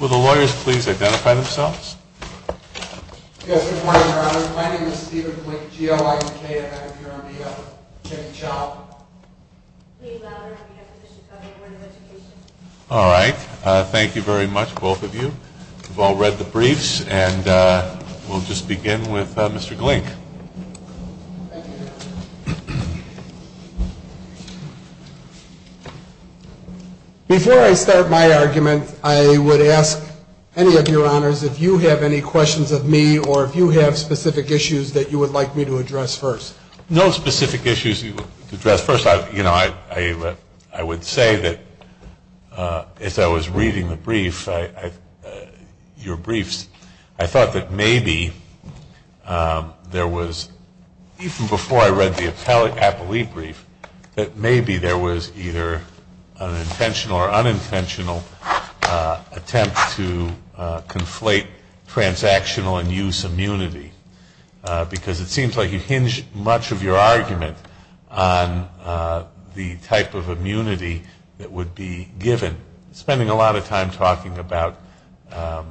Will the lawyers please identify themselves? Yes, good morning, Your Honor. My name is Stephen Glink, G-O-I-N-K-M-N-F-U-R-N-D-O. Kevin Chau. Lee Louder on behalf of the Chicago Board of Education. All right. Thank you very much, both of you. We've all read the briefs, and we'll just begin with Mr. Glink. Thank you, Your Honor. Before I start my argument, I would ask any of your honors if you have any questions of me or if you have specific issues that you would like me to address first. No specific issues to address first. You know, I would say that as I was reading the brief, your briefs, I thought that maybe there was, even before I read the appellee brief, that maybe there was either an intentional or unintentional attempt to conflate transactional and use immunity because it seems like you hinge much of your argument on the type of immunity that would be given. You've been spending a lot of time talking about that,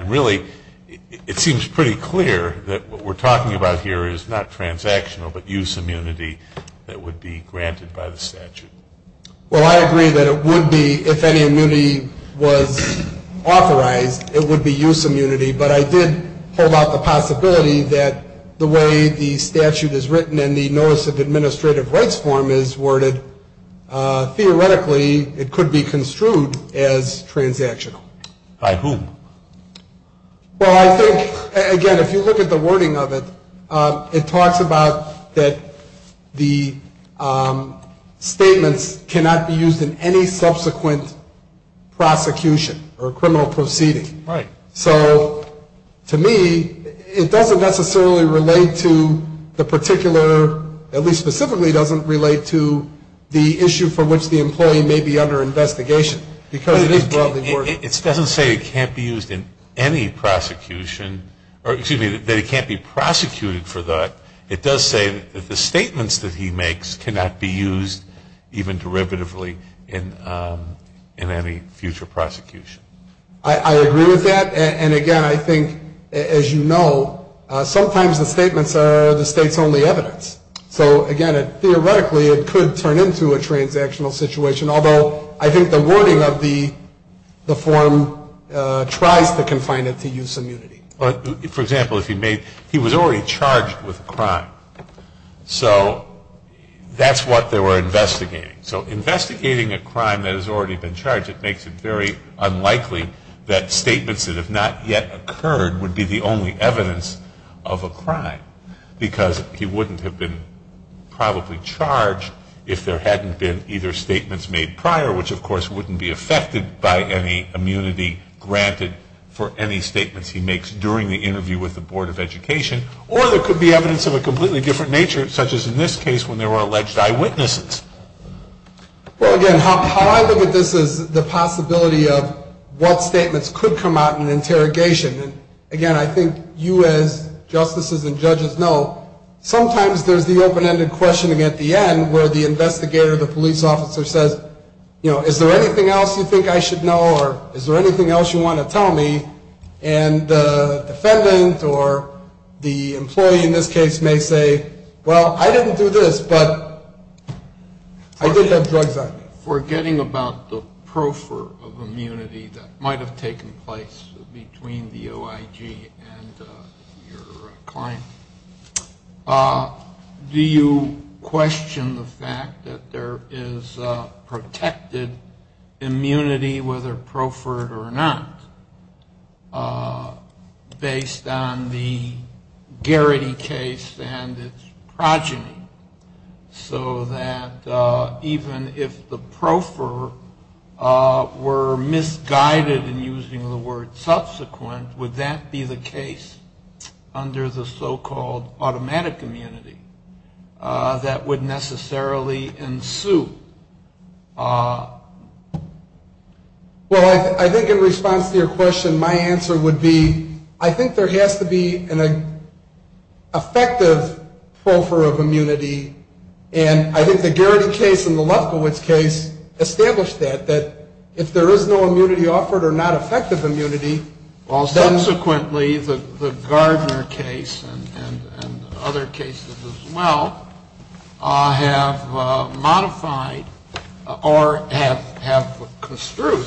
and really it seems pretty clear that what we're talking about here is not transactional, but use immunity that would be granted by the statute. Well, I agree that it would be, if any immunity was authorized, it would be use immunity, but I did hold out the possibility that the way the statute is written and the Notice of Administrative Rights form is worded, theoretically it could be construed as transactional. By whom? Well, I think, again, if you look at the wording of it, it talks about that the statements cannot be used in any subsequent prosecution or criminal proceeding. Right. So, to me, it doesn't necessarily relate to the particular, at least specifically it doesn't relate to the issue for which the employee may be under investigation because it is broadly worded. It doesn't say it can't be used in any prosecution, or excuse me, that it can't be prosecuted for that. It does say that the statements that he makes cannot be used even derivatively in any future prosecution. I agree with that. And, again, I think, as you know, sometimes the statements are the state's only evidence. So, again, theoretically it could turn into a transactional situation, although I think the wording of the form tries to confine it to use immunity. For example, if he was already charged with a crime, so that's what they were investigating. So, investigating a crime that has already been charged, it makes it very unlikely that statements that have not yet occurred would be the only evidence of a crime because he wouldn't have been probably charged if there hadn't been either statements made prior, which, of course, wouldn't be affected by any immunity granted for any statements he makes during the interview with the Board of Education, or there could be evidence of a completely different nature, such as in this case when there were alleged eyewitnesses. Well, again, how I look at this is the possibility of what statements could come out in an interrogation. And, again, I think you as justices and judges know sometimes there's the open-ended questioning at the end where the investigator or the police officer says, you know, is there anything else you think I should know or is there anything else you want to tell me? And the defendant or the employee in this case may say, well, I didn't do this, but I did have drugs on me. Forgetting about the pro for immunity that might have taken place between the OIG and your client, do you question the fact that there is protected immunity, whether pro for it or not, based on the Garrity case and its progeny so that even if the pro for were misguided in using the word subsequent, would that be the case under the so-called automatic immunity that would necessarily ensue? Well, I think in response to your question, my answer would be I think there has to be an effective pro for immunity. And I think the Garrity case and the Lefkowitz case established that, that if there is no immunity offered or not effective immunity, then... Well, subsequently, the Gardner case and other cases as well have modified or have construed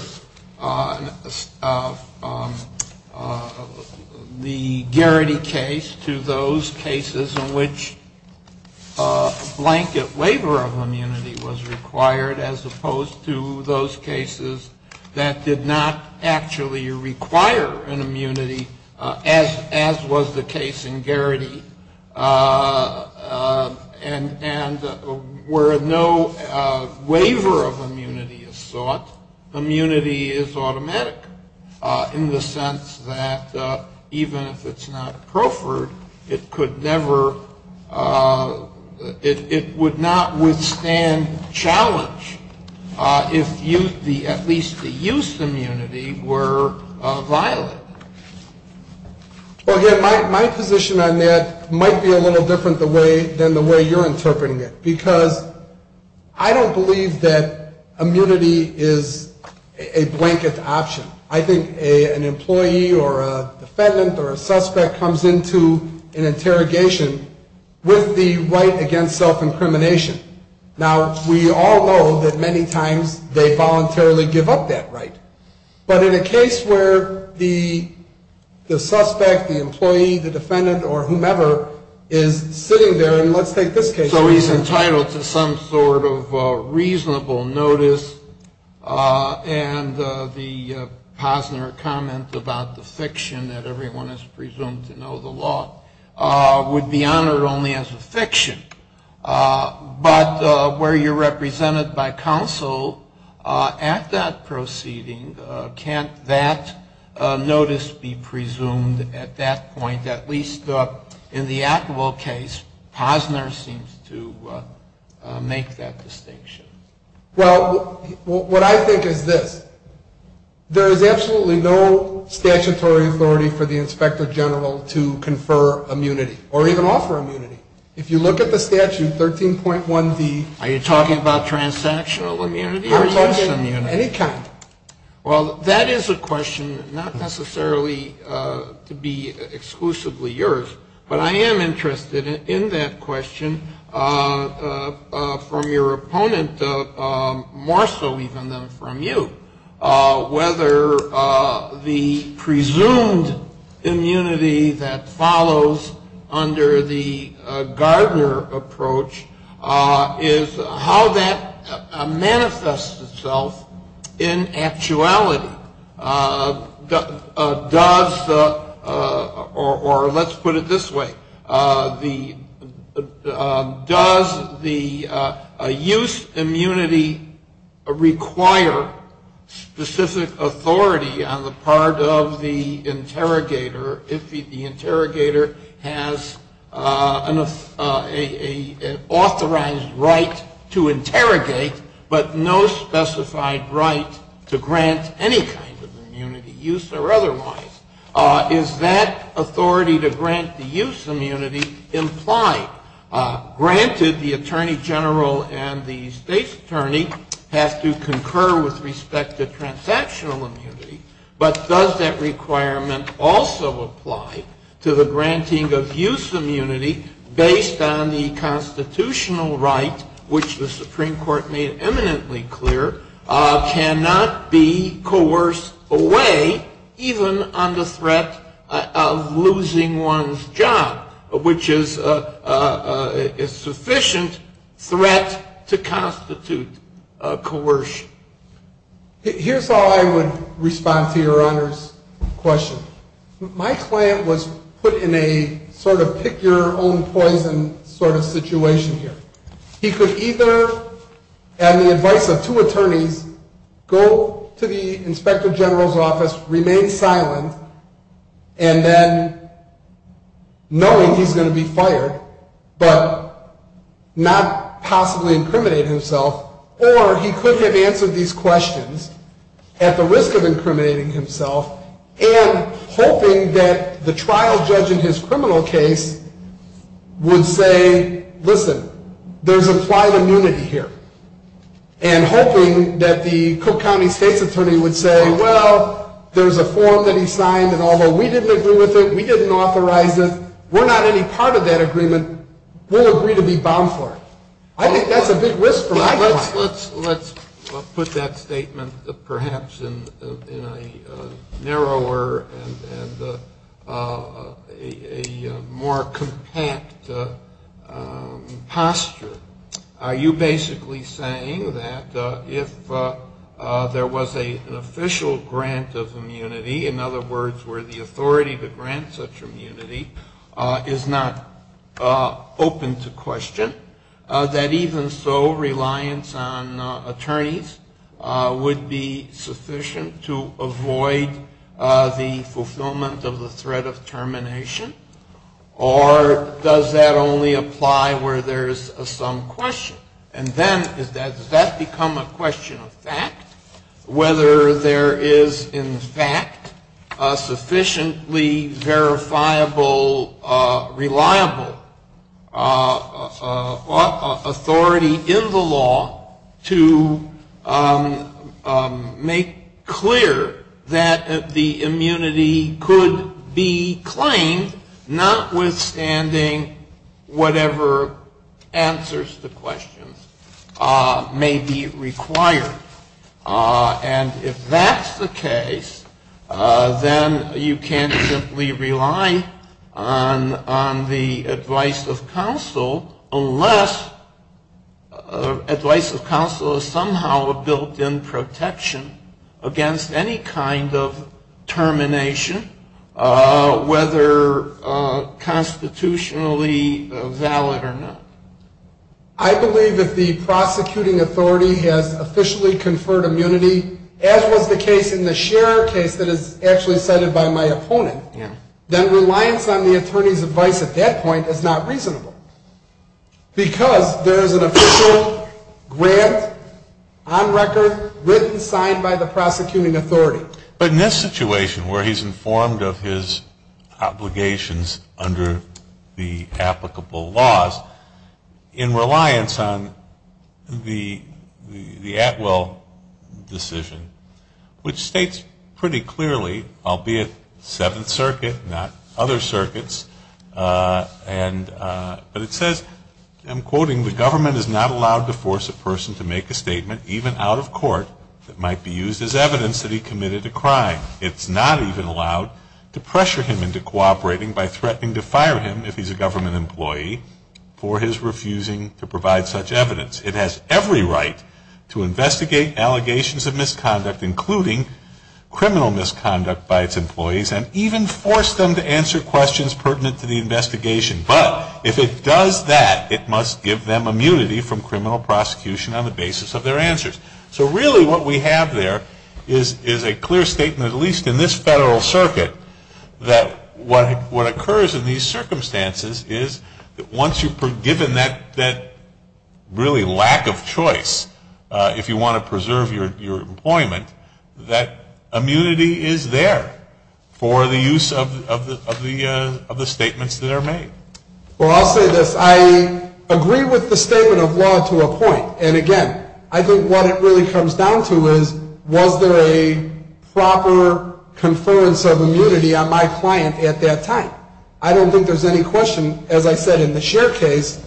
the Garrity case to those cases in which blanket waiver of immunity was required as opposed to those cases that did not actually require an immunity, as was the case in Garrity. And where no waiver of immunity is sought, immunity is automatic in the sense that even if it's not pro for it, it would not withstand challenge if at least the use immunity were violated. Well, again, my position on that might be a little different than the way you're interpreting it, because I don't believe that immunity is a blanket option. I think an employee or a defendant or a suspect comes into an interrogation with the right against self-incrimination. Now, we all know that many times they voluntarily give up that right. But in a case where the suspect, the employee, the defendant or whomever is sitting there and let's take this case... So he's entitled to some sort of reasonable notice and the posner comment about the fiction that everyone is presumed to know the law would be honored only as a fiction. But where you're represented by counsel at that proceeding, can't that notice be presumed at that point, at least in the Atwell case, posner seems to make that distinction. Well, what I think is this. There is absolutely no statutory authority for the inspector general to confer immunity or even offer immunity. If you look at the statute, 13.1D... Are you talking about transactional immunity or use immunity? I'm talking any kind. Well, that is a question not necessarily to be exclusively yours. But I am interested in that question from your opponent more so even than from you, whether the presumed immunity that follows under the Gardner approach is how that manifests itself in actuality. Or let's put it this way. Does the use immunity require specific authority on the part of the interrogator? If the interrogator has an authorized right to interrogate, but no specified right to grant any kind of immunity, use or otherwise, is that authority to grant the use immunity implied? Granted, the attorney general and the state's attorney have to concur with respect to transactional immunity, but does that requirement also apply to the granting of use immunity based on the constitutional right, which the Supreme Court made eminently clear, cannot be coerced away even under the use immunity? Or does that require the threat of losing one's job, which is a sufficient threat to constitute coercion? Here's how I would respond to Your Honor's question. My client was put in a sort of pick-your-own-poison sort of situation here. He could either, on the advice of two attorneys, go to the inspector general's office, remain silent, and then, knowing he's going to be fired, but not possibly incriminate himself, or he could have answered these questions at the risk of incriminating himself and hoping that the trial judge in his criminal case would say, listen, there's implied immunity here, and hoping that the Cook County state's attorney would say, well, there's a form that he signed, and although we didn't agree with it, we didn't authorize it, we're not any part of that agreement, we'll agree to be bound for it. I think that's a big risk for my client. Let's put that statement perhaps in a narrower and a more compact posture. Are you basically saying that if there was an official grant of immunity, in other words, where the authority to grant such immunity is not open to question, that even so, reliance on attorneys would be sufficient to avoid the fulfillment of the threat of termination? Or does that only apply where there's some question? And then, does that become a question of fact, whether there is in fact a sufficiently verifiable, reliable authority in the law to make clear that the immunity could be claimed, notwithstanding whatever answers to questions may be required? And if that's the case, then you can't simply rely on the advice of counsel, unless advice of counsel is somehow a built-in protection against any kind of termination, whether constitutionally valid or not. I believe if the prosecuting authority has officially conferred immunity, as was the case in the Scherer case that is actually cited by my opponent, then reliance on the attorney's advice at that point is not reasonable, because there is an official grant on record written, signed by the prosecuting authority. But in this situation, where he's informed of his obligations under the applicable laws, in reliance on the Atwell decision, which states pretty clearly, albeit Seventh Circuit, not other circuits, then the government is not allowed to force a person to make a statement, even out of court, that might be used as evidence that he committed a crime. It's not even allowed to pressure him into cooperating by threatening to fire him, if he's a government employee, for his refusing to provide such evidence. It has every right to investigate allegations of misconduct, including criminal misconduct by its employees, and even force them to answer questions pertinent to the investigation. But if it does that, it must give them immunity from criminal prosecution on the basis of their answers. So really what we have there is a clear statement, at least in this federal circuit, that what occurs in these circumstances is that once you're given that really lack of choice, if you want to preserve your employment, that immunity is there for the use of the statements that are made. Well, I'll say this. I agree with the statement of law to a point. And again, I think what it really comes down to is, was there a proper conference of immunity on my client at that time? I don't think there's any question, as I said in the Scheer case,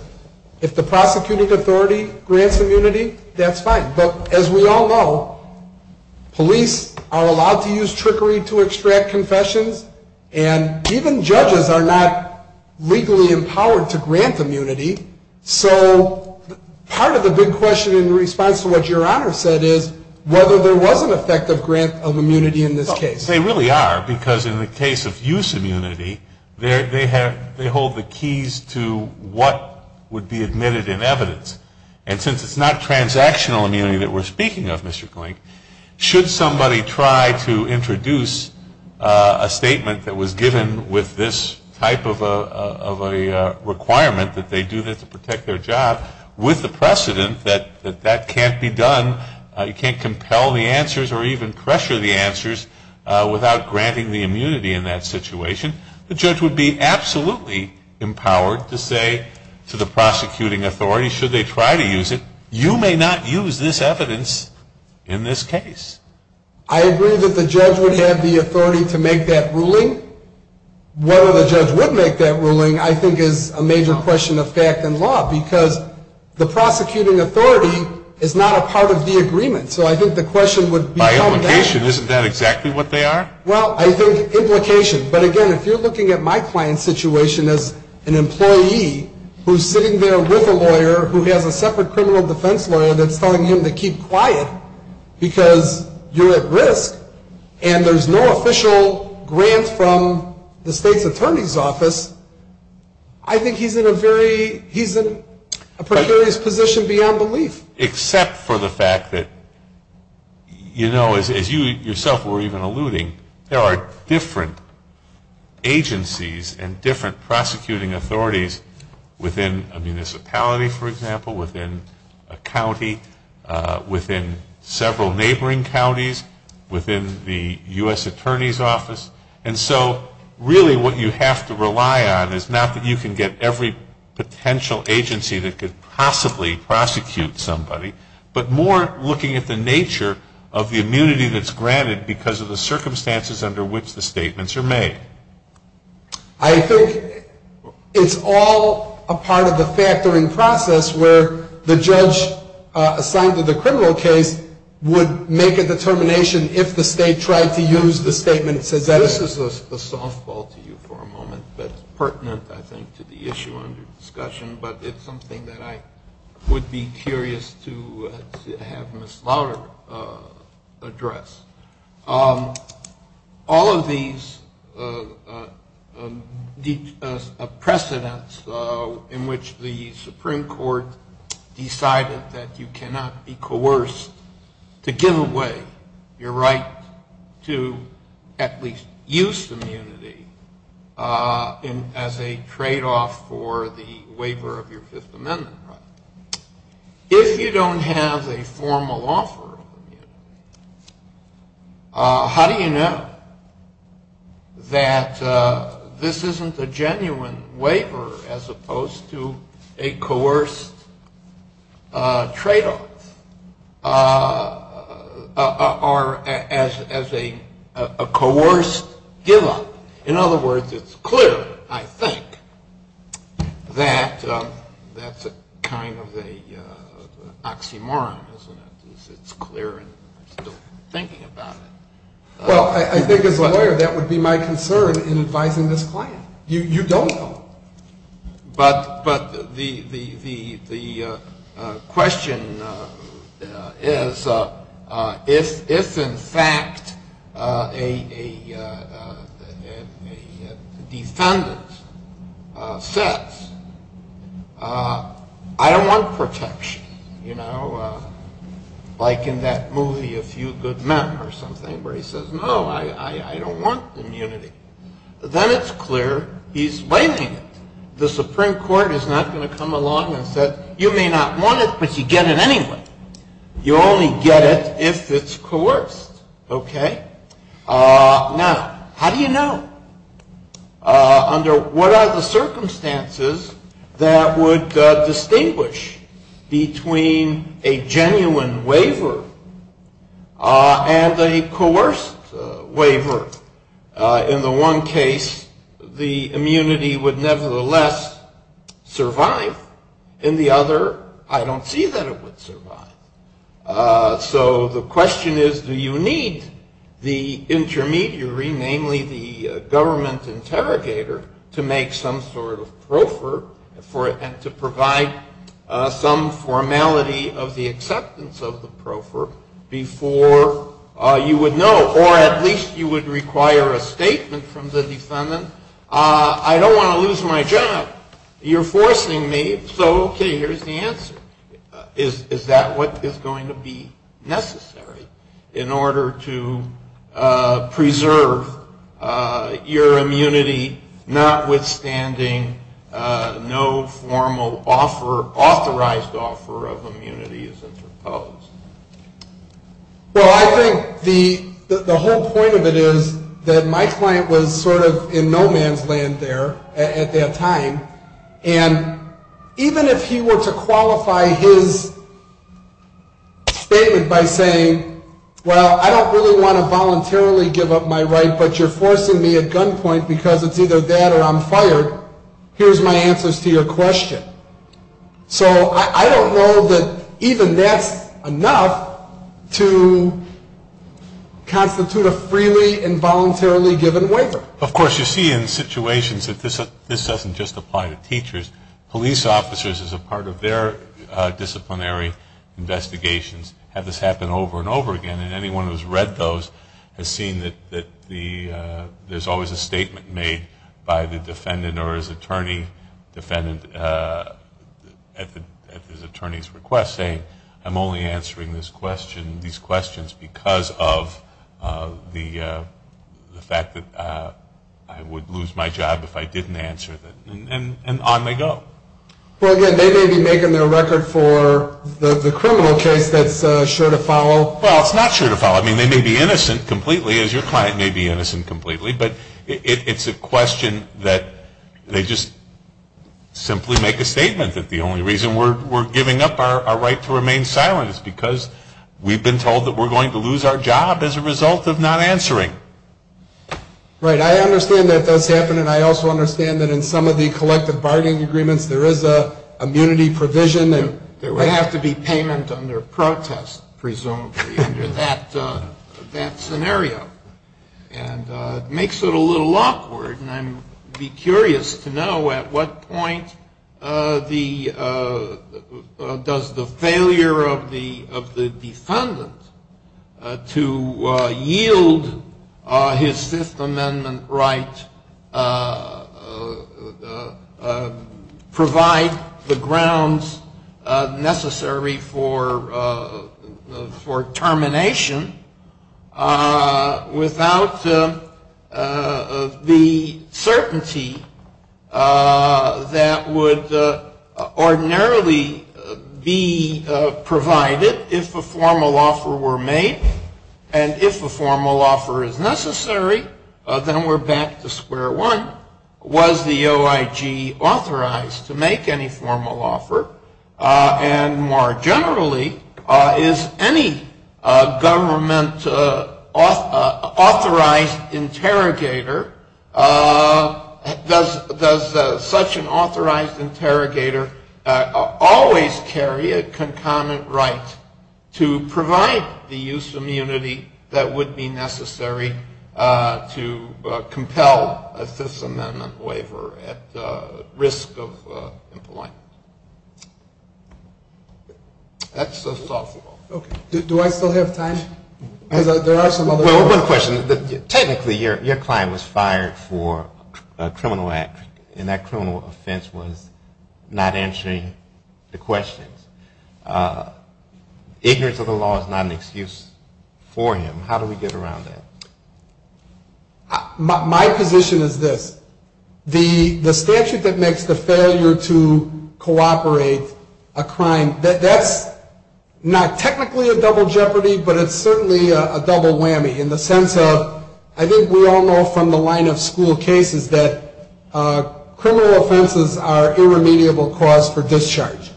if the prosecuting authority grants immunity, that's fine. But as we all know, police are allowed to use trickery to extract confessions, and even judges are not legally empowered to grant immunity. So part of the big question in response to what Your Honor said is whether there was an effective grant of immunity in this case. They really are, because in the case of use immunity, they hold the keys to what would be admitted in evidence. And since it's not transactional immunity that we're speaking of, Mr. Klink, should somebody try to introduce a statement that was given with this type of a requirement, that they do this to protect their job, with the precedent that that can't be done, you can't compel the answers or even pressure the answers without granting the immunity in that situation, the judge would be absolutely empowered to say to the prosecuting authority, should they try to use it, you may not use this evidence in this case. I agree that the judge would have the authority to make that ruling. Whether the judge would make that ruling I think is a major question of fact and law, because the prosecuting authority is not a part of the agreement. So I think the question would become that. By implication, isn't that exactly what they are? Well, I think implication. But again, if you're looking at my client's situation as an employee who's sitting there with a lawyer who has a separate criminal defense lawyer that's telling him to keep quiet because you're at risk and there's no official grant from the state's attorney's office, I think he's in a very, he's in a precarious position beyond belief. Except for the fact that, you know, as you yourself were even alluding, there are different agencies and different prosecuting authorities within a municipality, for example, within a county, within several neighboring counties, within the U.S. attorney's office. And so really what you have to rely on is not that you can get every potential agency that could possibly prosecute somebody, but more looking at the nature of the immunity that's granted because of the circumstances under which the statements are made. I think it's all a part of the factoring process where the judge assigned to the criminal case would make a determination if the state tried to use the statements as evidence. This is a softball to you for a moment, but pertinent, I think, to the issue under discussion. But it's something that I would be curious to have Ms. Lauder address. All of these precedents in which the Supreme Court decided that you cannot be coerced to give away your right to at least use immunity as a tradeoff for the waiver of your Fifth Amendment right. If you don't have a formal offer of immunity, how do you know that this isn't a genuine waiver as opposed to a coerced tradeoff or as a coerced give up? In other words, it's clear, I think, that that's kind of an oxymoron, isn't it? It's clear and I'm still thinking about it. Well, I think as a lawyer that would be my concern in advising this client. You don't know. But the question is, if in fact a defendant says, I don't want protection, you know, like in that movie A Few Good Men or something where he says, no, I don't want immunity, then it's clear he's waiving it. The Supreme Court is not going to come along and say, you may not want it, but you get it anyway. You only get it if it's coerced. Okay? Now, how do you know? Under what are the circumstances that would distinguish between a genuine waiver and a coerced waiver? In the one case, the immunity would nevertheless survive. In the other, I don't see that it would survive. So the question is, do you need the intermediary, namely the government interrogator, to make some sort of proffer and to provide some formality of the acceptance of the proffer before you would know? Or at least you would require a statement from the defendant. I don't want to lose my job. You're forcing me, so okay, here's the answer. Is that what is going to be necessary in order to preserve your immunity, notwithstanding no formal authorized offer of immunity is interposed? Well, I think the whole point of it is that my client was sort of in no man's land there at that time, and even if he were to qualify his statement by saying, well, I don't really want to voluntarily give up my right, but you're forcing me at gunpoint because it's either that or I'm fired, here's my answers to your question. So I don't know that even that's enough to constitute a freely and voluntarily given waiver. Of course, you see in situations that this doesn't just apply to teachers. Police officers, as a part of their disciplinary investigations, have this happen over and over again, and anyone who has read those has seen that there's always a statement made by the defendant or his attorney at his attorney's request saying, I'm only answering these questions because of the fact that I would lose my job if I didn't answer them. And on they go. Well, again, they may be making their record for the criminal case that's sure to follow. Well, it's not sure to follow. I mean, they may be innocent completely, as your client may be innocent completely, but it's a question that they just simply make a statement that the only reason we're giving up our right to remain silent is because we've been told that we're going to lose our job as a result of not answering. Right. I understand that that's happening. I also understand that in some of the collective bargaining agreements there is an immunity provision. There would have to be payment under protest, presumably, under that scenario. And it makes it a little awkward, and I'd be curious to know at what point does the failure of the defendant to yield his Fifth Amendment right provide the grounds necessary for termination without the certainty that would ordinarily be provided if a formal offer were made, And if a formal offer is necessary, then we're back to square one. Was the OIG authorized to make any formal offer? And more generally, is any government-authorized interrogator, does such an authorized interrogator always carry a concomitant right to provide the use of immunity that would be necessary to compel a Fifth Amendment waiver at risk of employment? That's a thoughtful question. Do I still have time? Because there are some other questions. Technically, your client was fired for a criminal act, and that criminal offense was not answering the questions. Ignorance of the law is not an excuse for him. How do we get around that? My position is this. The statute that makes the failure to cooperate a crime, that's not technically a double jeopardy, but it's certainly a double whammy. In the sense of, I think we all know from the line of school cases that criminal offenses are irremediable cause for discharge.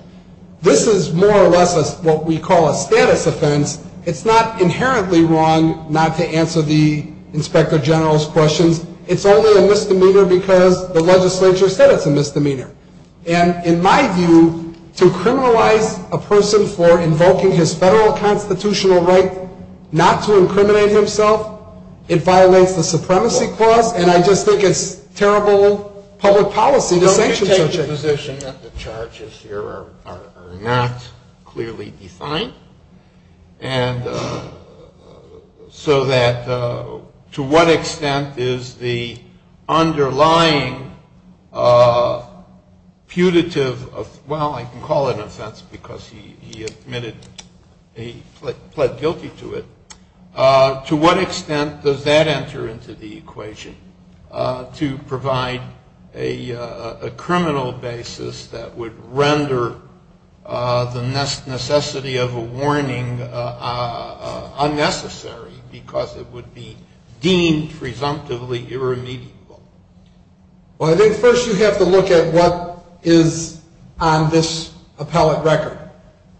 This is more or less what we call a status offense. It's not inherently wrong not to answer the inspector general's questions. It's only a misdemeanor because the legislature said it's a misdemeanor. And in my view, to criminalize a person for invoking his federal constitutional right not to incriminate himself, it violates the supremacy clause, and I just think it's terrible public policy to sanction such a thing. The charges here are not clearly defined. And so that to what extent is the underlying putative of, well, I can call it an offense because he admitted he pled guilty to it, to what extent does that enter into the equation to provide a criminal basis for the render the necessity of a warning unnecessary because it would be deemed presumptively irremediable? Well, I think first you have to look at what is on this appellate record.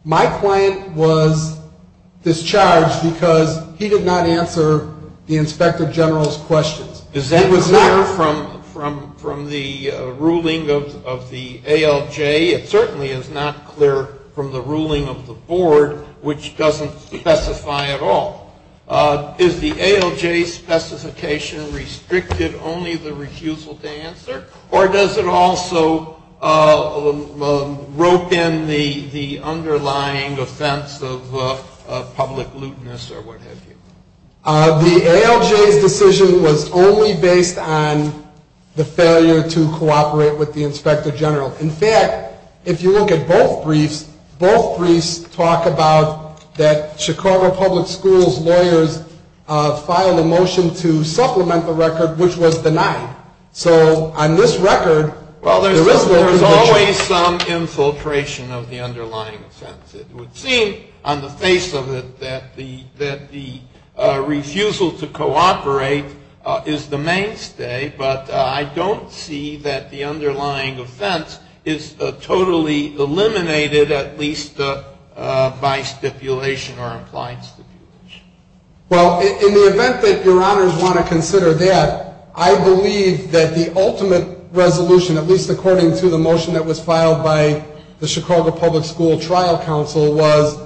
My client was discharged because he did not answer the inspector general's questions. Is that clear from the ruling of the ALJ? It certainly is not clear from the ruling of the board, which doesn't specify at all. Is the ALJ's specification restricted only the refusal to answer, or does it also rope in the underlying offense of public luteness or what have you? The ALJ's decision was only based on the failure to cooperate with the inspector general. In fact, if you look at both briefs, both briefs talk about that Chicago Public Schools lawyers filed a motion to supplement the record, which was denied. So on this record, there is no conviction. Well, there's always some infiltration of the underlying offense. It would seem on the face of it that the refusal to cooperate is the mainstay, but I don't see that the underlying offense is totally eliminated, at least by stipulation or implied stipulation. Well, in the event that Your Honors want to consider that, I believe that the ultimate resolution, at least according to the motion that was filed by the Chicago Public School Trial Council, was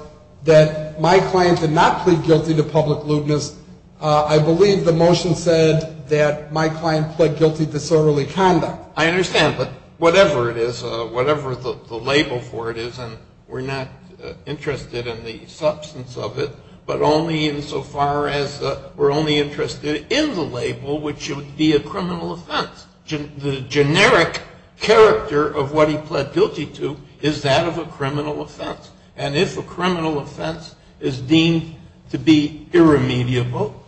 that my client did not plead guilty to public luteness. I believe the motion said that my client pled guilty to disorderly conduct. I understand. But whatever it is, whatever the label for it is, and we're not interested in the substance of it, but only insofar as we're only interested in the label, which would be a criminal offense. The generic character of what he pled guilty to is that of a criminal offense. And if a criminal offense is deemed to be irremediable,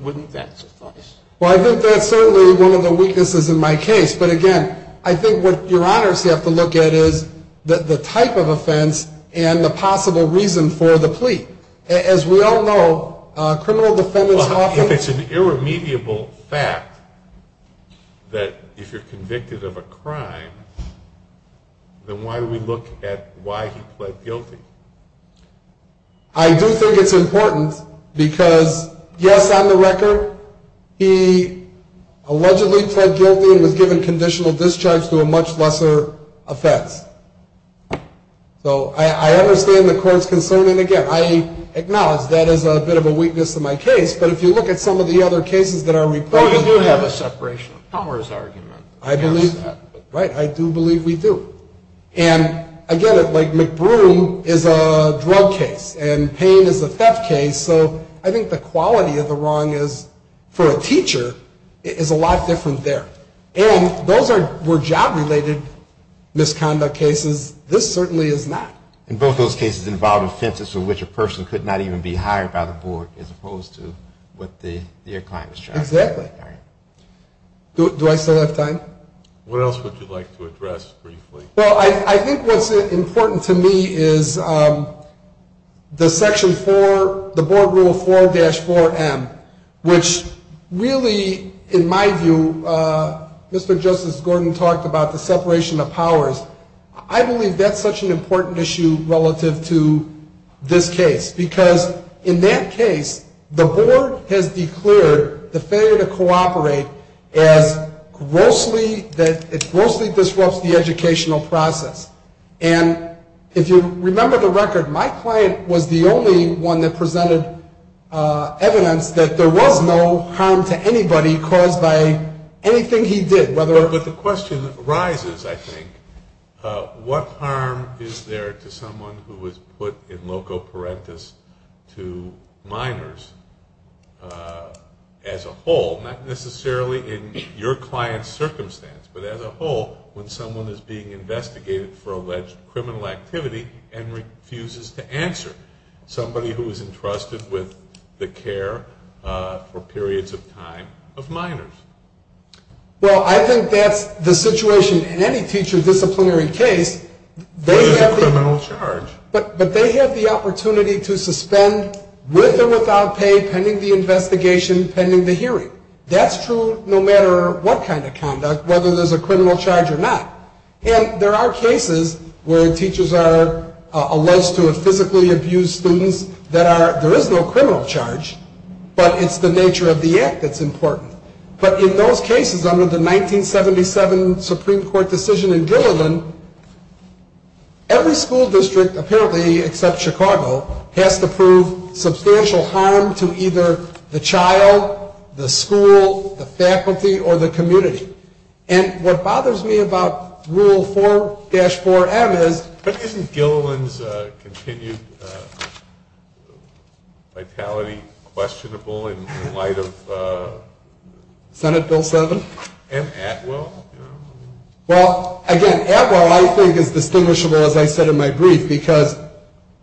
wouldn't that suffice? Well, I think that's certainly one of the weaknesses in my case. But, again, I think what Your Honors have to look at is the type of offense and the possible reason for the plea. As we all know, criminal defendants often – that if you're convicted of a crime, then why do we look at why he pled guilty? I do think it's important because, yes, on the record, he allegedly pled guilty and was given conditional discharge to a much lesser offense. So I understand the court's concern. And, again, I acknowledge that is a bit of a weakness in my case. But if you look at some of the other cases that are reported – I do believe we do. And, again, like McBroom is a drug case and Payne is a theft case. So I think the quality of the wrong for a teacher is a lot different there. And those were job-related misconduct cases. This certainly is not. And both those cases involved offenses for which a person could not even be hired by the board as opposed to what their client was charged with. Exactly. Do I still have time? What else would you like to address briefly? Well, I think what's important to me is the Section 4 – the Board Rule 4-4M, which really, in my view – Mr. Justice Gordon talked about the separation of powers. I believe that's such an important issue relative to this case because, in that case, the board has declared the failure to cooperate as grossly – that it grossly disrupts the educational process. And if you remember the record, my client was the only one that presented evidence that there was no harm to anybody caused by anything he did, whether – But the question arises, I think, what harm is there to someone who is put in loco parentis to minors as a whole, not necessarily in your client's circumstance, but as a whole when someone is being investigated for alleged criminal activity and refuses to answer, somebody who is entrusted with the care for periods of time of minors? Well, I think that's the situation in any teacher disciplinary case. There is a criminal charge. But they have the opportunity to suspend with or without pay pending the investigation, pending the hearing. That's true no matter what kind of conduct, whether there's a criminal charge or not. And there are cases where teachers are alleged to have physically abused students that are – there is no criminal charge, but it's the nature of the act that's important. But in those cases, under the 1977 Supreme Court decision in Gilliland, every school district, apparently except Chicago, has to prove substantial harm to either the child, the school, the faculty, or the community. And what bothers me about Rule 4-4M is – Is Gilliland's continued vitality questionable in light of – Senate Bill 7? And Atwell? Well, again, Atwell I think is distinguishable, as I said in my brief, because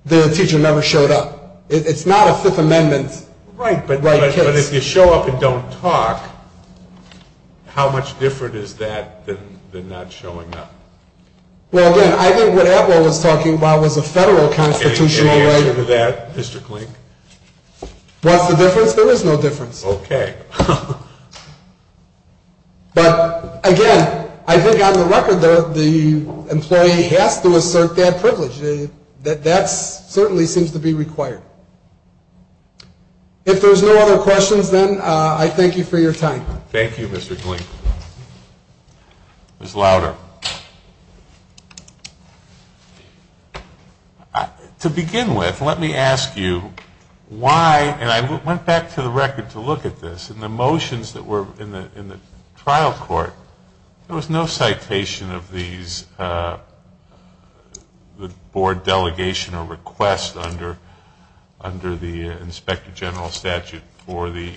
the teacher never showed up. It's not a Fifth Amendment- Right, but if you show up and don't talk, how much different is that than not showing up? Well, again, I think what Atwell was talking about was a federal constitutional right. Any answer to that, Mr. Klink? What's the difference? There is no difference. Okay. But, again, I think on the record, the employee has to assert that privilege. That certainly seems to be required. If there's no other questions, then, I thank you for your time. Thank you, Mr. Klink. Ms. Louder. To begin with, let me ask you why – and I went back to the record to look at this – in the motions that were in the trial court, there was no citation of these – the board delegation or request under the Inspector General statute for the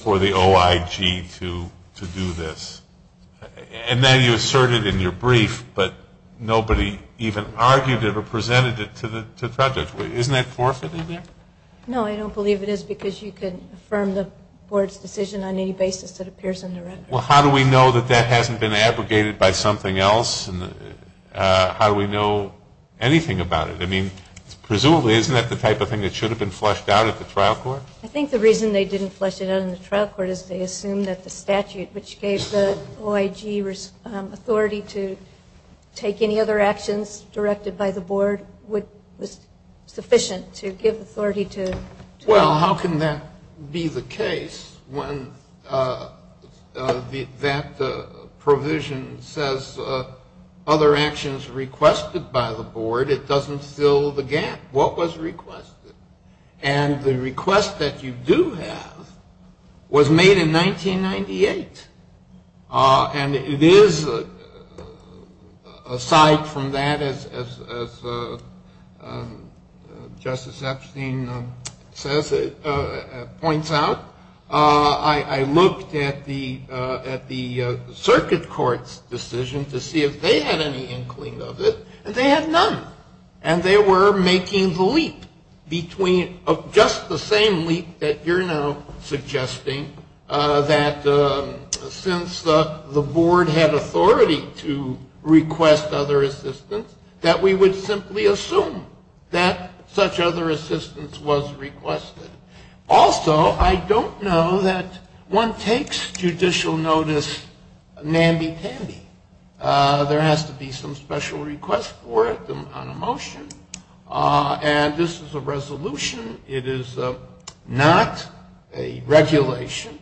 OIG to do this. And then you asserted in your brief, but nobody even argued it or presented it to the project. Isn't that forfeiting there? No, I don't believe it is, because you can affirm the board's decision on any basis that appears in the record. Well, how do we know that that hasn't been abrogated by something else? How do we know anything about it? I mean, presumably, isn't that the type of thing that should have been flushed out at the trial court? I think the reason they didn't flush it out in the trial court is they assumed that the statute, which gave the OIG authority to take any other actions directed by the board, was sufficient to give authority to – Well, how can that be the case when that provision says other actions requested by the board? It doesn't fill the gap. What was requested? And the request that you do have was made in 1998. And it is, aside from that, as Justice Epstein says, points out, I looked at the circuit court's decision to see if they had any inkling of it, and they had none. And they were making the leap between – just the same leap that you're now suggesting, that since the board had authority to request other assistance, that we would simply assume that such other assistance was requested. Also, I don't know that one takes judicial notice namby-pamby. There has to be some special request for it on a motion. And this is a resolution. It is not a regulation.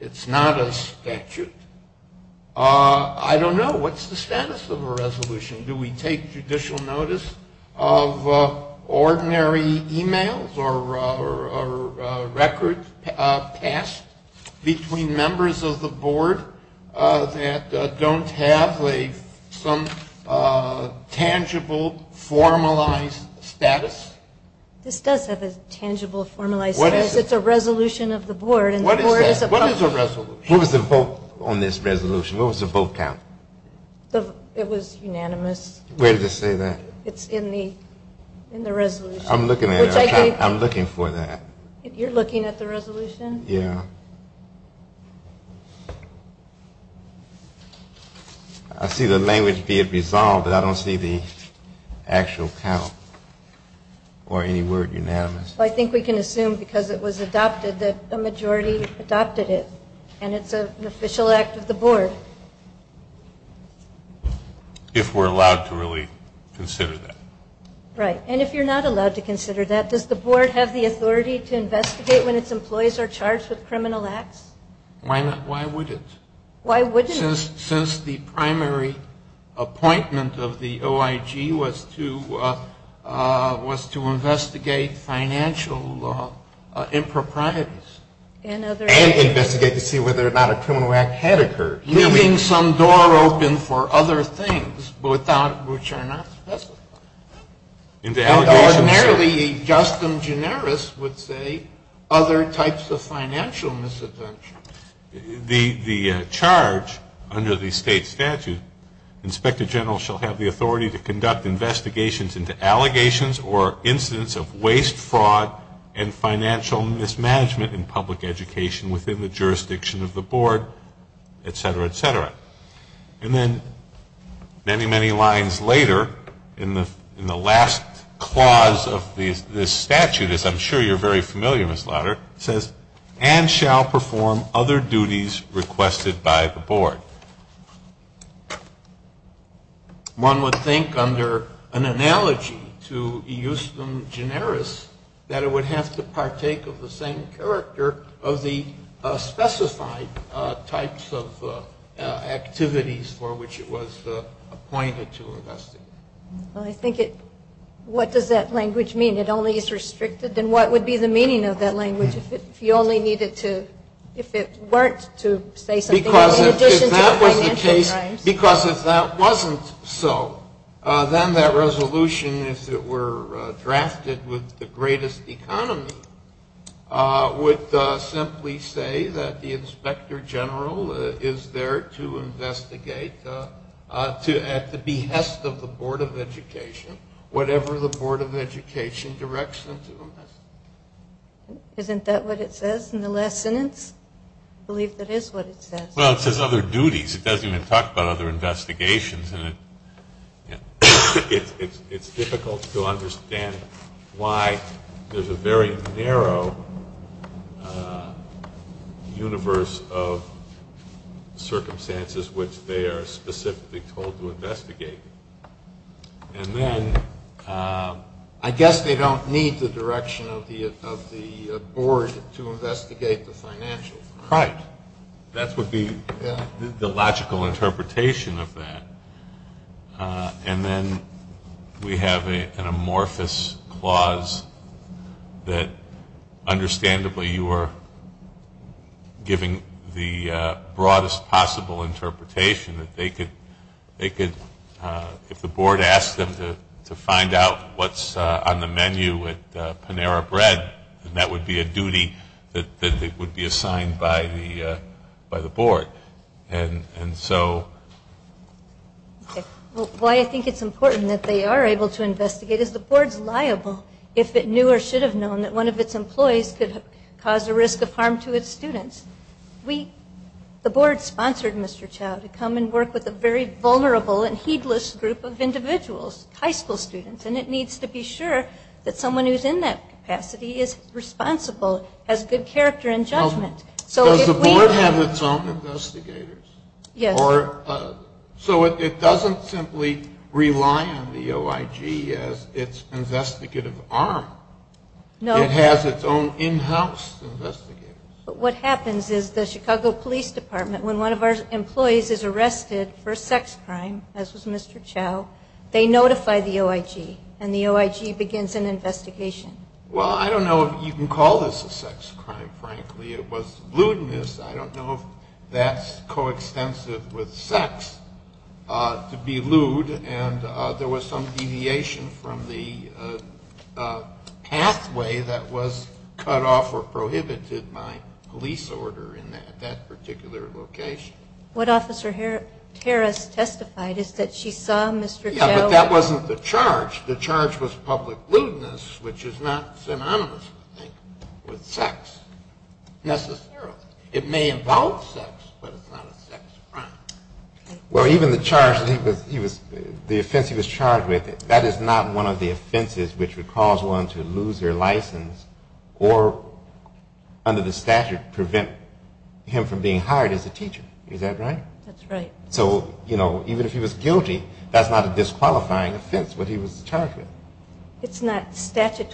It's not a statute. I don't know. What's the status of a resolution? Do we take judicial notice of ordinary e-mails or records passed between members of the board that don't have some tangible, formalized status? This does have a tangible, formalized status. It's a resolution of the board. What is that? What is a resolution? What was the vote on this resolution? What was the vote count? It was unanimous. Where did it say that? It's in the resolution. I'm looking at it. I'm looking for that. You're looking at the resolution? Yeah. I see the language be it resolved, but I don't see the actual count or any word unanimous. I think we can assume because it was adopted that a majority adopted it. And it's an official act of the board. If we're allowed to really consider that. Right. And if you're not allowed to consider that, does the board have the authority to investigate when its employees are charged with criminal acts? Why not? Why would it? Why wouldn't it? Since the primary appointment of the OIG was to investigate financial improprieties. And investigate to see whether or not a criminal act had occurred. Leaving some door open for other things which are not specified. Ordinarily, justum generis would say other types of financial misadventures. The charge under the state statute, Inspector General shall have the authority to conduct investigations into allegations or incidents of waste, fraud, and financial mismanagement in public education within the jurisdiction of the board, et cetera, et cetera. And then many, many lines later in the last clause of this statute, as I'm sure you're very familiar, Ms. Lowder, says and shall perform other duties requested by the board. One would think under an analogy to justum generis that it would have to partake of the same character of the specified types of activities for which it was appointed to investigate. Well, I think it, what does that language mean? It only is restricted? Then what would be the meaning of that language if you only needed to, if it weren't to say something in addition to financial crimes? Because if that wasn't so, then that resolution, if it were drafted with the greatest economy, would simply say that the Inspector General is there to investigate at the behest of the Board of Education, whatever the Board of Education directs them to investigate. Isn't that what it says in the last sentence? I believe that is what it says. Well, it says other duties. It doesn't even talk about other investigations. And it's difficult to understand why there's a very narrow universe of circumstances which they are specifically told to investigate. And then I guess they don't need the direction of the Board to investigate the financial crime. Right. That would be the logical interpretation of that. And then we have an amorphous clause that, understandably, you are giving the broadest possible interpretation that they could, if the Board asked them to find out what's on the menu at Panera Bread, that would be a duty that would be assigned by the Board. And so why I think it's important that they are able to investigate is the Board's liable if it knew or should have known that one of its employees could cause a risk of harm to its students. The Board sponsored Mr. Chao to come and work with a very vulnerable and heedless group of individuals, high school students, and it needs to be sure that someone who's in that capacity is responsible, has good character and judgment. Does the Board have its own investigators? Yes. So it doesn't simply rely on the OIG as its investigative arm. No. It has its own in-house investigators. But what happens is the Chicago Police Department, when one of our employees is arrested for a sex crime, as was Mr. Chao, they notify the OIG and the OIG begins an investigation. Well, I don't know if you can call this a sex crime, frankly. It was lewdness. I don't know if that's coextensive with sex, to be lewd, and there was some deviation from the pathway that was cut off or prohibited by police order in that particular location. What Officer Harris testified is that she saw Mr. Chao. Yeah, but that wasn't the charge. The charge was public lewdness, which is not synonymous, I think, with sex necessarily. It may involve sex, but it's not a sex crime. Well, even the offense he was charged with, that is not one of the offenses which would cause one to lose their license or under the statute prevent him from being hired as a teacher. Is that right? That's right. So, you know, even if he was guilty, that's not a disqualifying offense, what he was charged with. It's not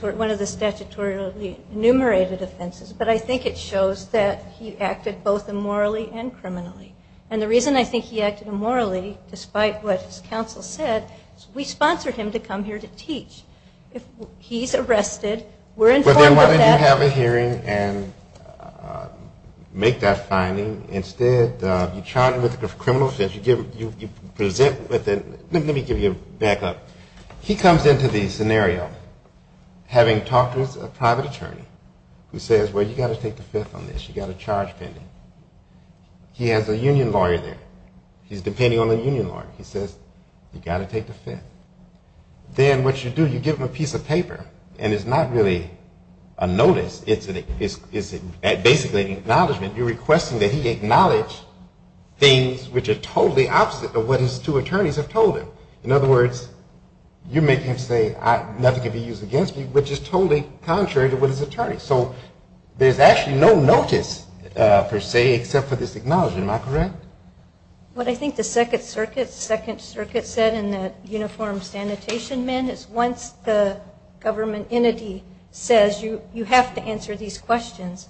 one of the statutorily enumerated offenses, but I think it shows that he acted both immorally and criminally. And the reason I think he acted immorally, despite what his counsel said, is we sponsored him to come here to teach. If he's arrested, we're informed of that. But then why didn't you have a hearing and make that finding? Instead, you charge him with a criminal offense, you present with it. Let me give you a backup. He comes into the scenario having talked with a private attorney who says, well, you've got to take the fifth on this. You've got a charge pending. He has a union lawyer there. He's depending on a union lawyer. He says, you've got to take the fifth. Then what you do, you give him a piece of paper, and it's not really a notice. It's basically an acknowledgment. You're requesting that he acknowledge things which are totally opposite of what his two attorneys have told him. In other words, you're making him say, nothing can be used against me, which is totally contrary to what his attorney. So there's actually no notice, per se, except for this acknowledgment. Am I correct? What I think the Second Circuit said in the Uniform Sanitation Amendment is once the government entity says you have to answer these questions,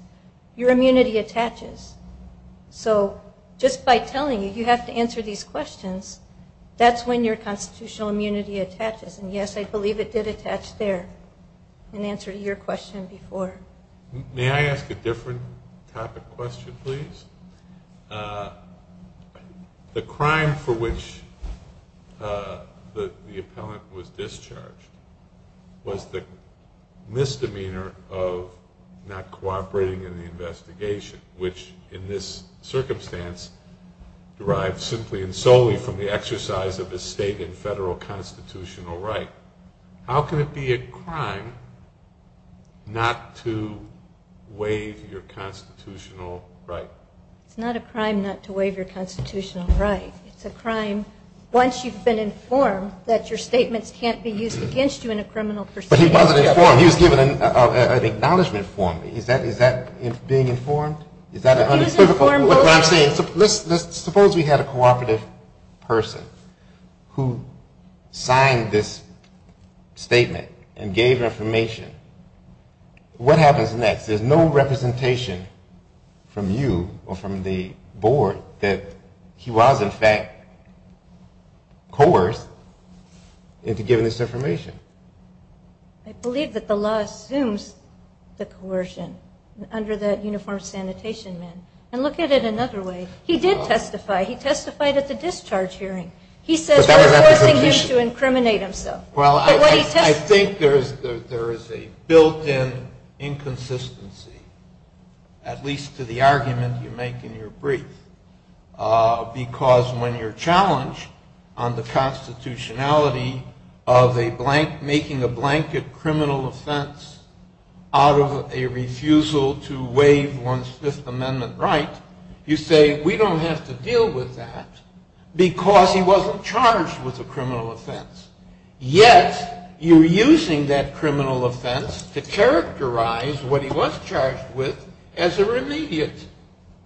your immunity attaches. So just by telling you you have to answer these questions, that's when your constitutional immunity attaches. And, yes, I believe it did attach there in answer to your question before. May I ask a different topic question, please? The crime for which the appellant was discharged was the misdemeanor of not cooperating in the investigation, which in this circumstance derives simply and solely from the exercise of a state and federal constitutional right. How can it be a crime not to waive your constitutional right? It's not a crime not to waive your constitutional right. It's a crime once you've been informed that your statements can't be used against you in a criminal proceeding. But he wasn't informed. He was given an acknowledgment form. Is that being informed? Suppose we had a cooperative person who signed this statement and gave information. What happens next? There's no representation from you or from the board that he was, in fact, coerced into giving this information. I believe that the law assumes the coercion under that uniformed sanitation man. And look at it another way. He did testify. He testified at the discharge hearing. He says we're forcing him to incriminate himself. Well, I think there is a built-in inconsistency, at least to the argument you make in your brief, because when you're challenged on the constitutionality of making a blanket criminal offense out of a refusal to waive one's Fifth Amendment right, you say we don't have to deal with that because he wasn't charged with a criminal offense. Yet you're using that criminal offense to characterize what he was charged with as a remediate,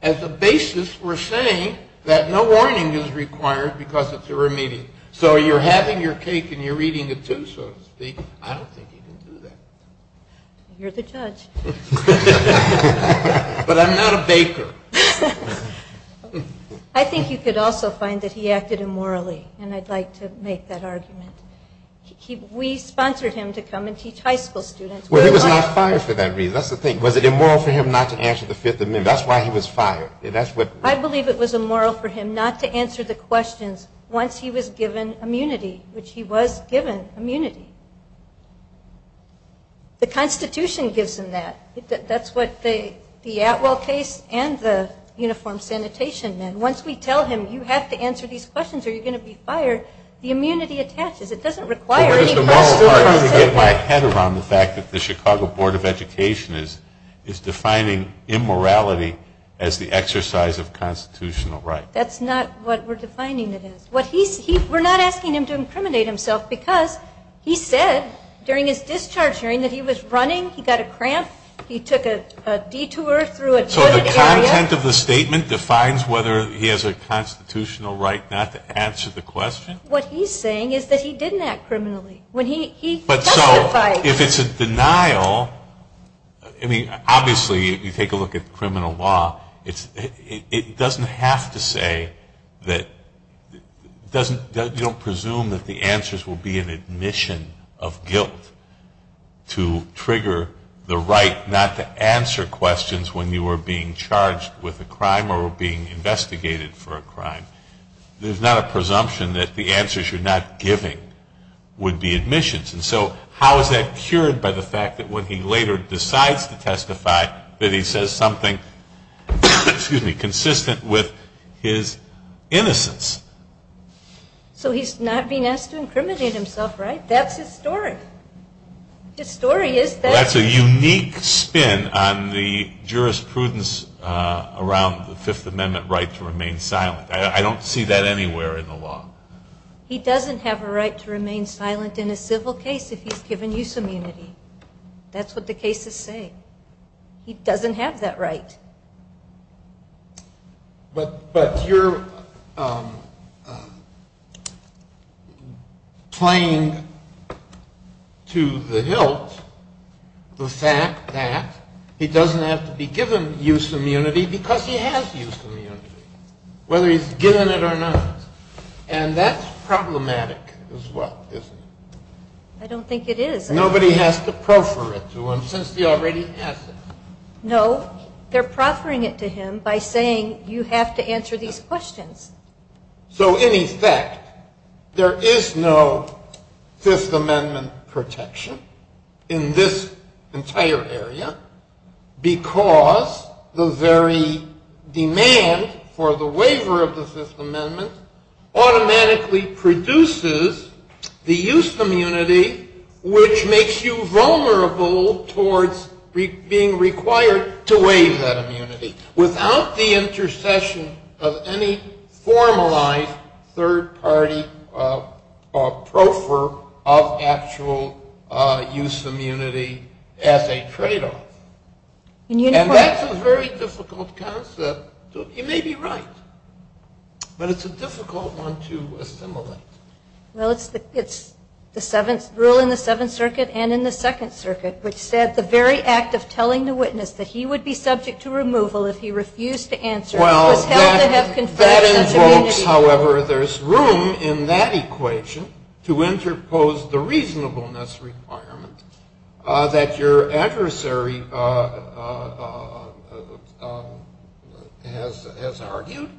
as a basis for saying that no warning is required because it's a remediate. So you're having your cake and you're eating it, too, so to speak. I don't think he can do that. You're the judge. But I'm not a baker. I think you could also find that he acted immorally, and I'd like to make that argument. We sponsored him to come and teach high school students. Well, he was not fired for that reason. That's the thing. Was it immoral for him not to answer the Fifth Amendment? That's why he was fired. I believe it was immoral for him not to answer the questions once he was given immunity, which he was given immunity. The Constitution gives him that. That's what the Atwell case and the uniformed sanitation men. Once we tell him you have to answer these questions or you're going to be fired, the immunity attaches. It doesn't require any questions. I'm still trying to get my head around the fact that the Chicago Board of Education is defining immorality as the exercise of constitutional right. That's not what we're defining it as. We're not asking him to incriminate himself because he said during his discharge hearing that he was running, he got a cramp, he took a detour through a good area. So the content of the statement defines whether he has a constitutional right not to answer the question? What he's saying is that he didn't act criminally. If it's a denial, obviously you take a look at criminal law, it doesn't have to say that you don't presume that the answers will be an admission of guilt to trigger the right not to answer questions when you were being charged with a crime or being investigated for a crime. There's not a presumption that the answers you're not giving would be admissions. And so how is that cured by the fact that when he later decides to testify that he says something consistent with his innocence? So he's not being asked to incriminate himself, right? That's his story. His story is that. That's a unique spin on the jurisprudence around the Fifth Amendment right to remain silent. I don't see that anywhere in the law. He doesn't have a right to remain silent in a civil case if he's given use immunity. That's what the cases say. He doesn't have that right. But you're playing to the hilt the fact that he doesn't have to be given use immunity, whether he's given it or not. And that's problematic as well, isn't it? I don't think it is. Nobody has to proffer it to him since he already has it. No, they're proffering it to him by saying you have to answer these questions. So, in effect, there is no Fifth Amendment protection in this entire area because the very demand for the waiver of the Fifth Amendment automatically produces the use immunity which makes you vulnerable towards being required to waive that immunity without the intercession of any formalized third party. And that's a very difficult concept. You may be right, but it's a difficult one to assimilate. Well, it's the rule in the Seventh Circuit and in the Second Circuit which said the very act of telling the witness that he would be subject to removal if he refused to answer was held to have conflict of such immunity. Well, that invokes, however, there's room in that equation to interpose the has argued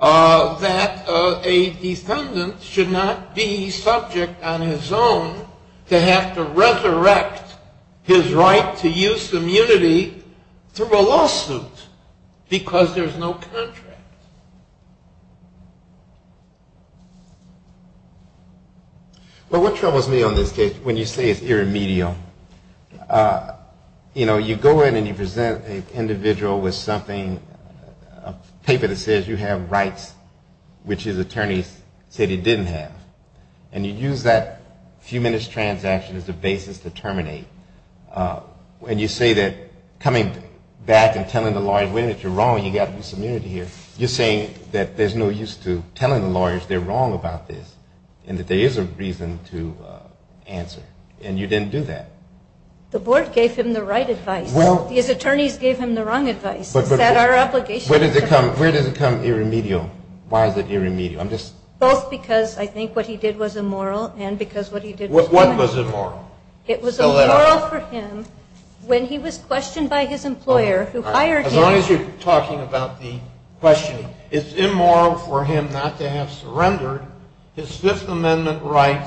that a defendant should not be subject on his own to have to resurrect his right to use immunity through a lawsuit because there's no contract. Well, what troubles me on this case when you say it's irremedial, you know, you go in and you present an individual with something, a paper that says you have rights which his attorneys said he didn't have. And you use that few minutes transaction as the basis to terminate. And you say that coming back and telling the lawyer's witness you're wrong, you've got to use immunity here, you're saying that there's no use to telling the lawyers they're wrong about this and that there is a reason to answer. And you didn't do that. The board gave him the right advice. His attorneys gave him the wrong advice. Is that our obligation? Where does it come irremedial? Why is it irremedial? Both because I think what he did was immoral and because what he did was correct. What was immoral? It was immoral for him when he was questioned by his employer who hired him. As long as you're talking about the questioning, it's immoral for him not to have surrendered his Fifth Amendment right,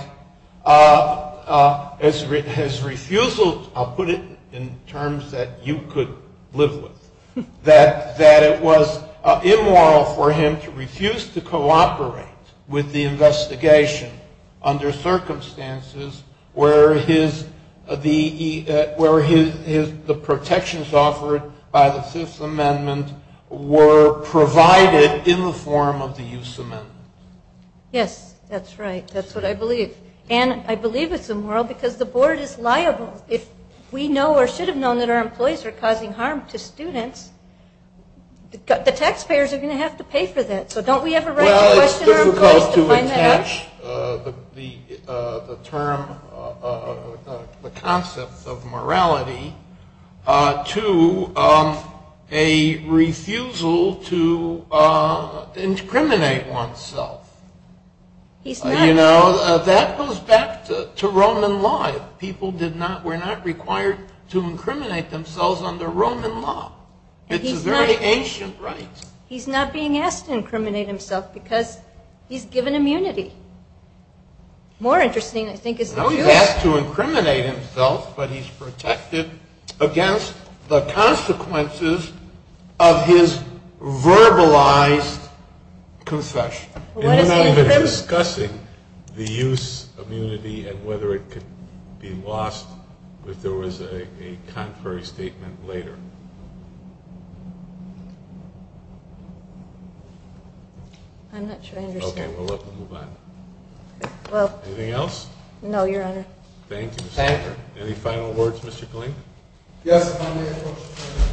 his refusal, I'll put it in terms that you could live with, that it was immoral for him to refuse to cooperate with the investigation under circumstances where the protections offered by the Fifth Amendment were provided in the form of the use amendment. Yes. That's right. That's what I believe. And I believe it's immoral because the board is liable. If we know or should have known that our employees are causing harm to students, the taxpayers are going to have to pay for that. So don't we have a right to question our employees to find that out? Well, it's difficult to attach the term, the concept of morality to a refusal to incriminate oneself. He's not. You know, that goes back to Roman law. People were not required to incriminate themselves under Roman law. It's a very ancient right. He's not being asked to incriminate himself because he's given immunity. More interesting, I think, is the use. No, he's asked to incriminate himself but he's protected against the use of his verbalized confession. And you're not even discussing the use immunity and whether it could be lost if there was a contrary statement later. I'm not sure I understand. Okay. Well, let's move on. Anything else? No, Your Honor. Thank you. Thank you. Any final words, Mr. Kling? Yes, if I may.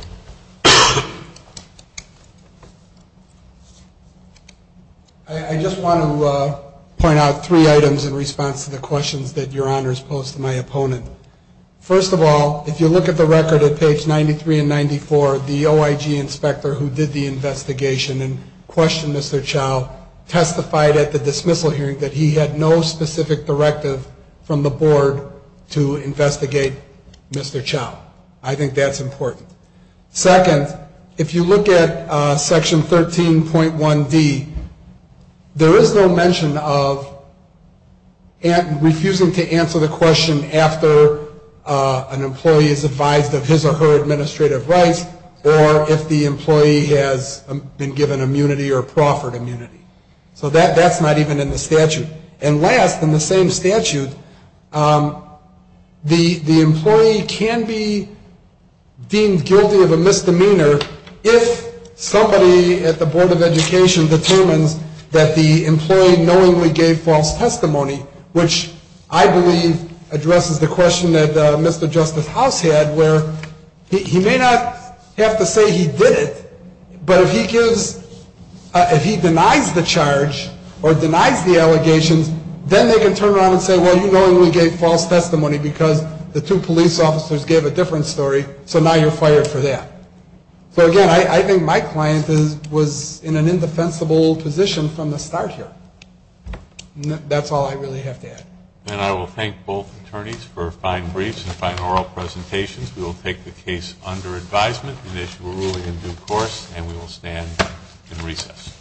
I just want to point out three items in response to the questions that Your Honor has posed to my opponent. First of all, if you look at the record at page 93 and 94, the OIG inspector who did the investigation and questioned Mr. Chau testified at the dismissal hearing that he had no specific directive from the board to investigate Mr. Chau. I think that's important. Second, if you look at section 13.1D, there is no mention of refusing to answer the question after an employee is advised of his or her administrative rights or if the employee has been given immunity or proffered immunity. So that's not even in the statute. And last, in the same statute, the employee can be deemed guilty of a misdemeanor if somebody at the Board of Education determines that the employee knowingly gave false testimony, which I believe addresses the question that Mr. Justice House had, where he may not have to say he did it, but if he denies the charge or denies the allegations, then they can turn around and say, well, you knowingly gave false testimony because the two police officers gave a different story, so now you're fired for that. So, again, I think my client was in an indefensible position from the start here. That's all I really have to add. And I will thank both attorneys for fine briefs and fine oral presentations. We will take the case under advisement and issue a ruling in due course, and we will stand in recess.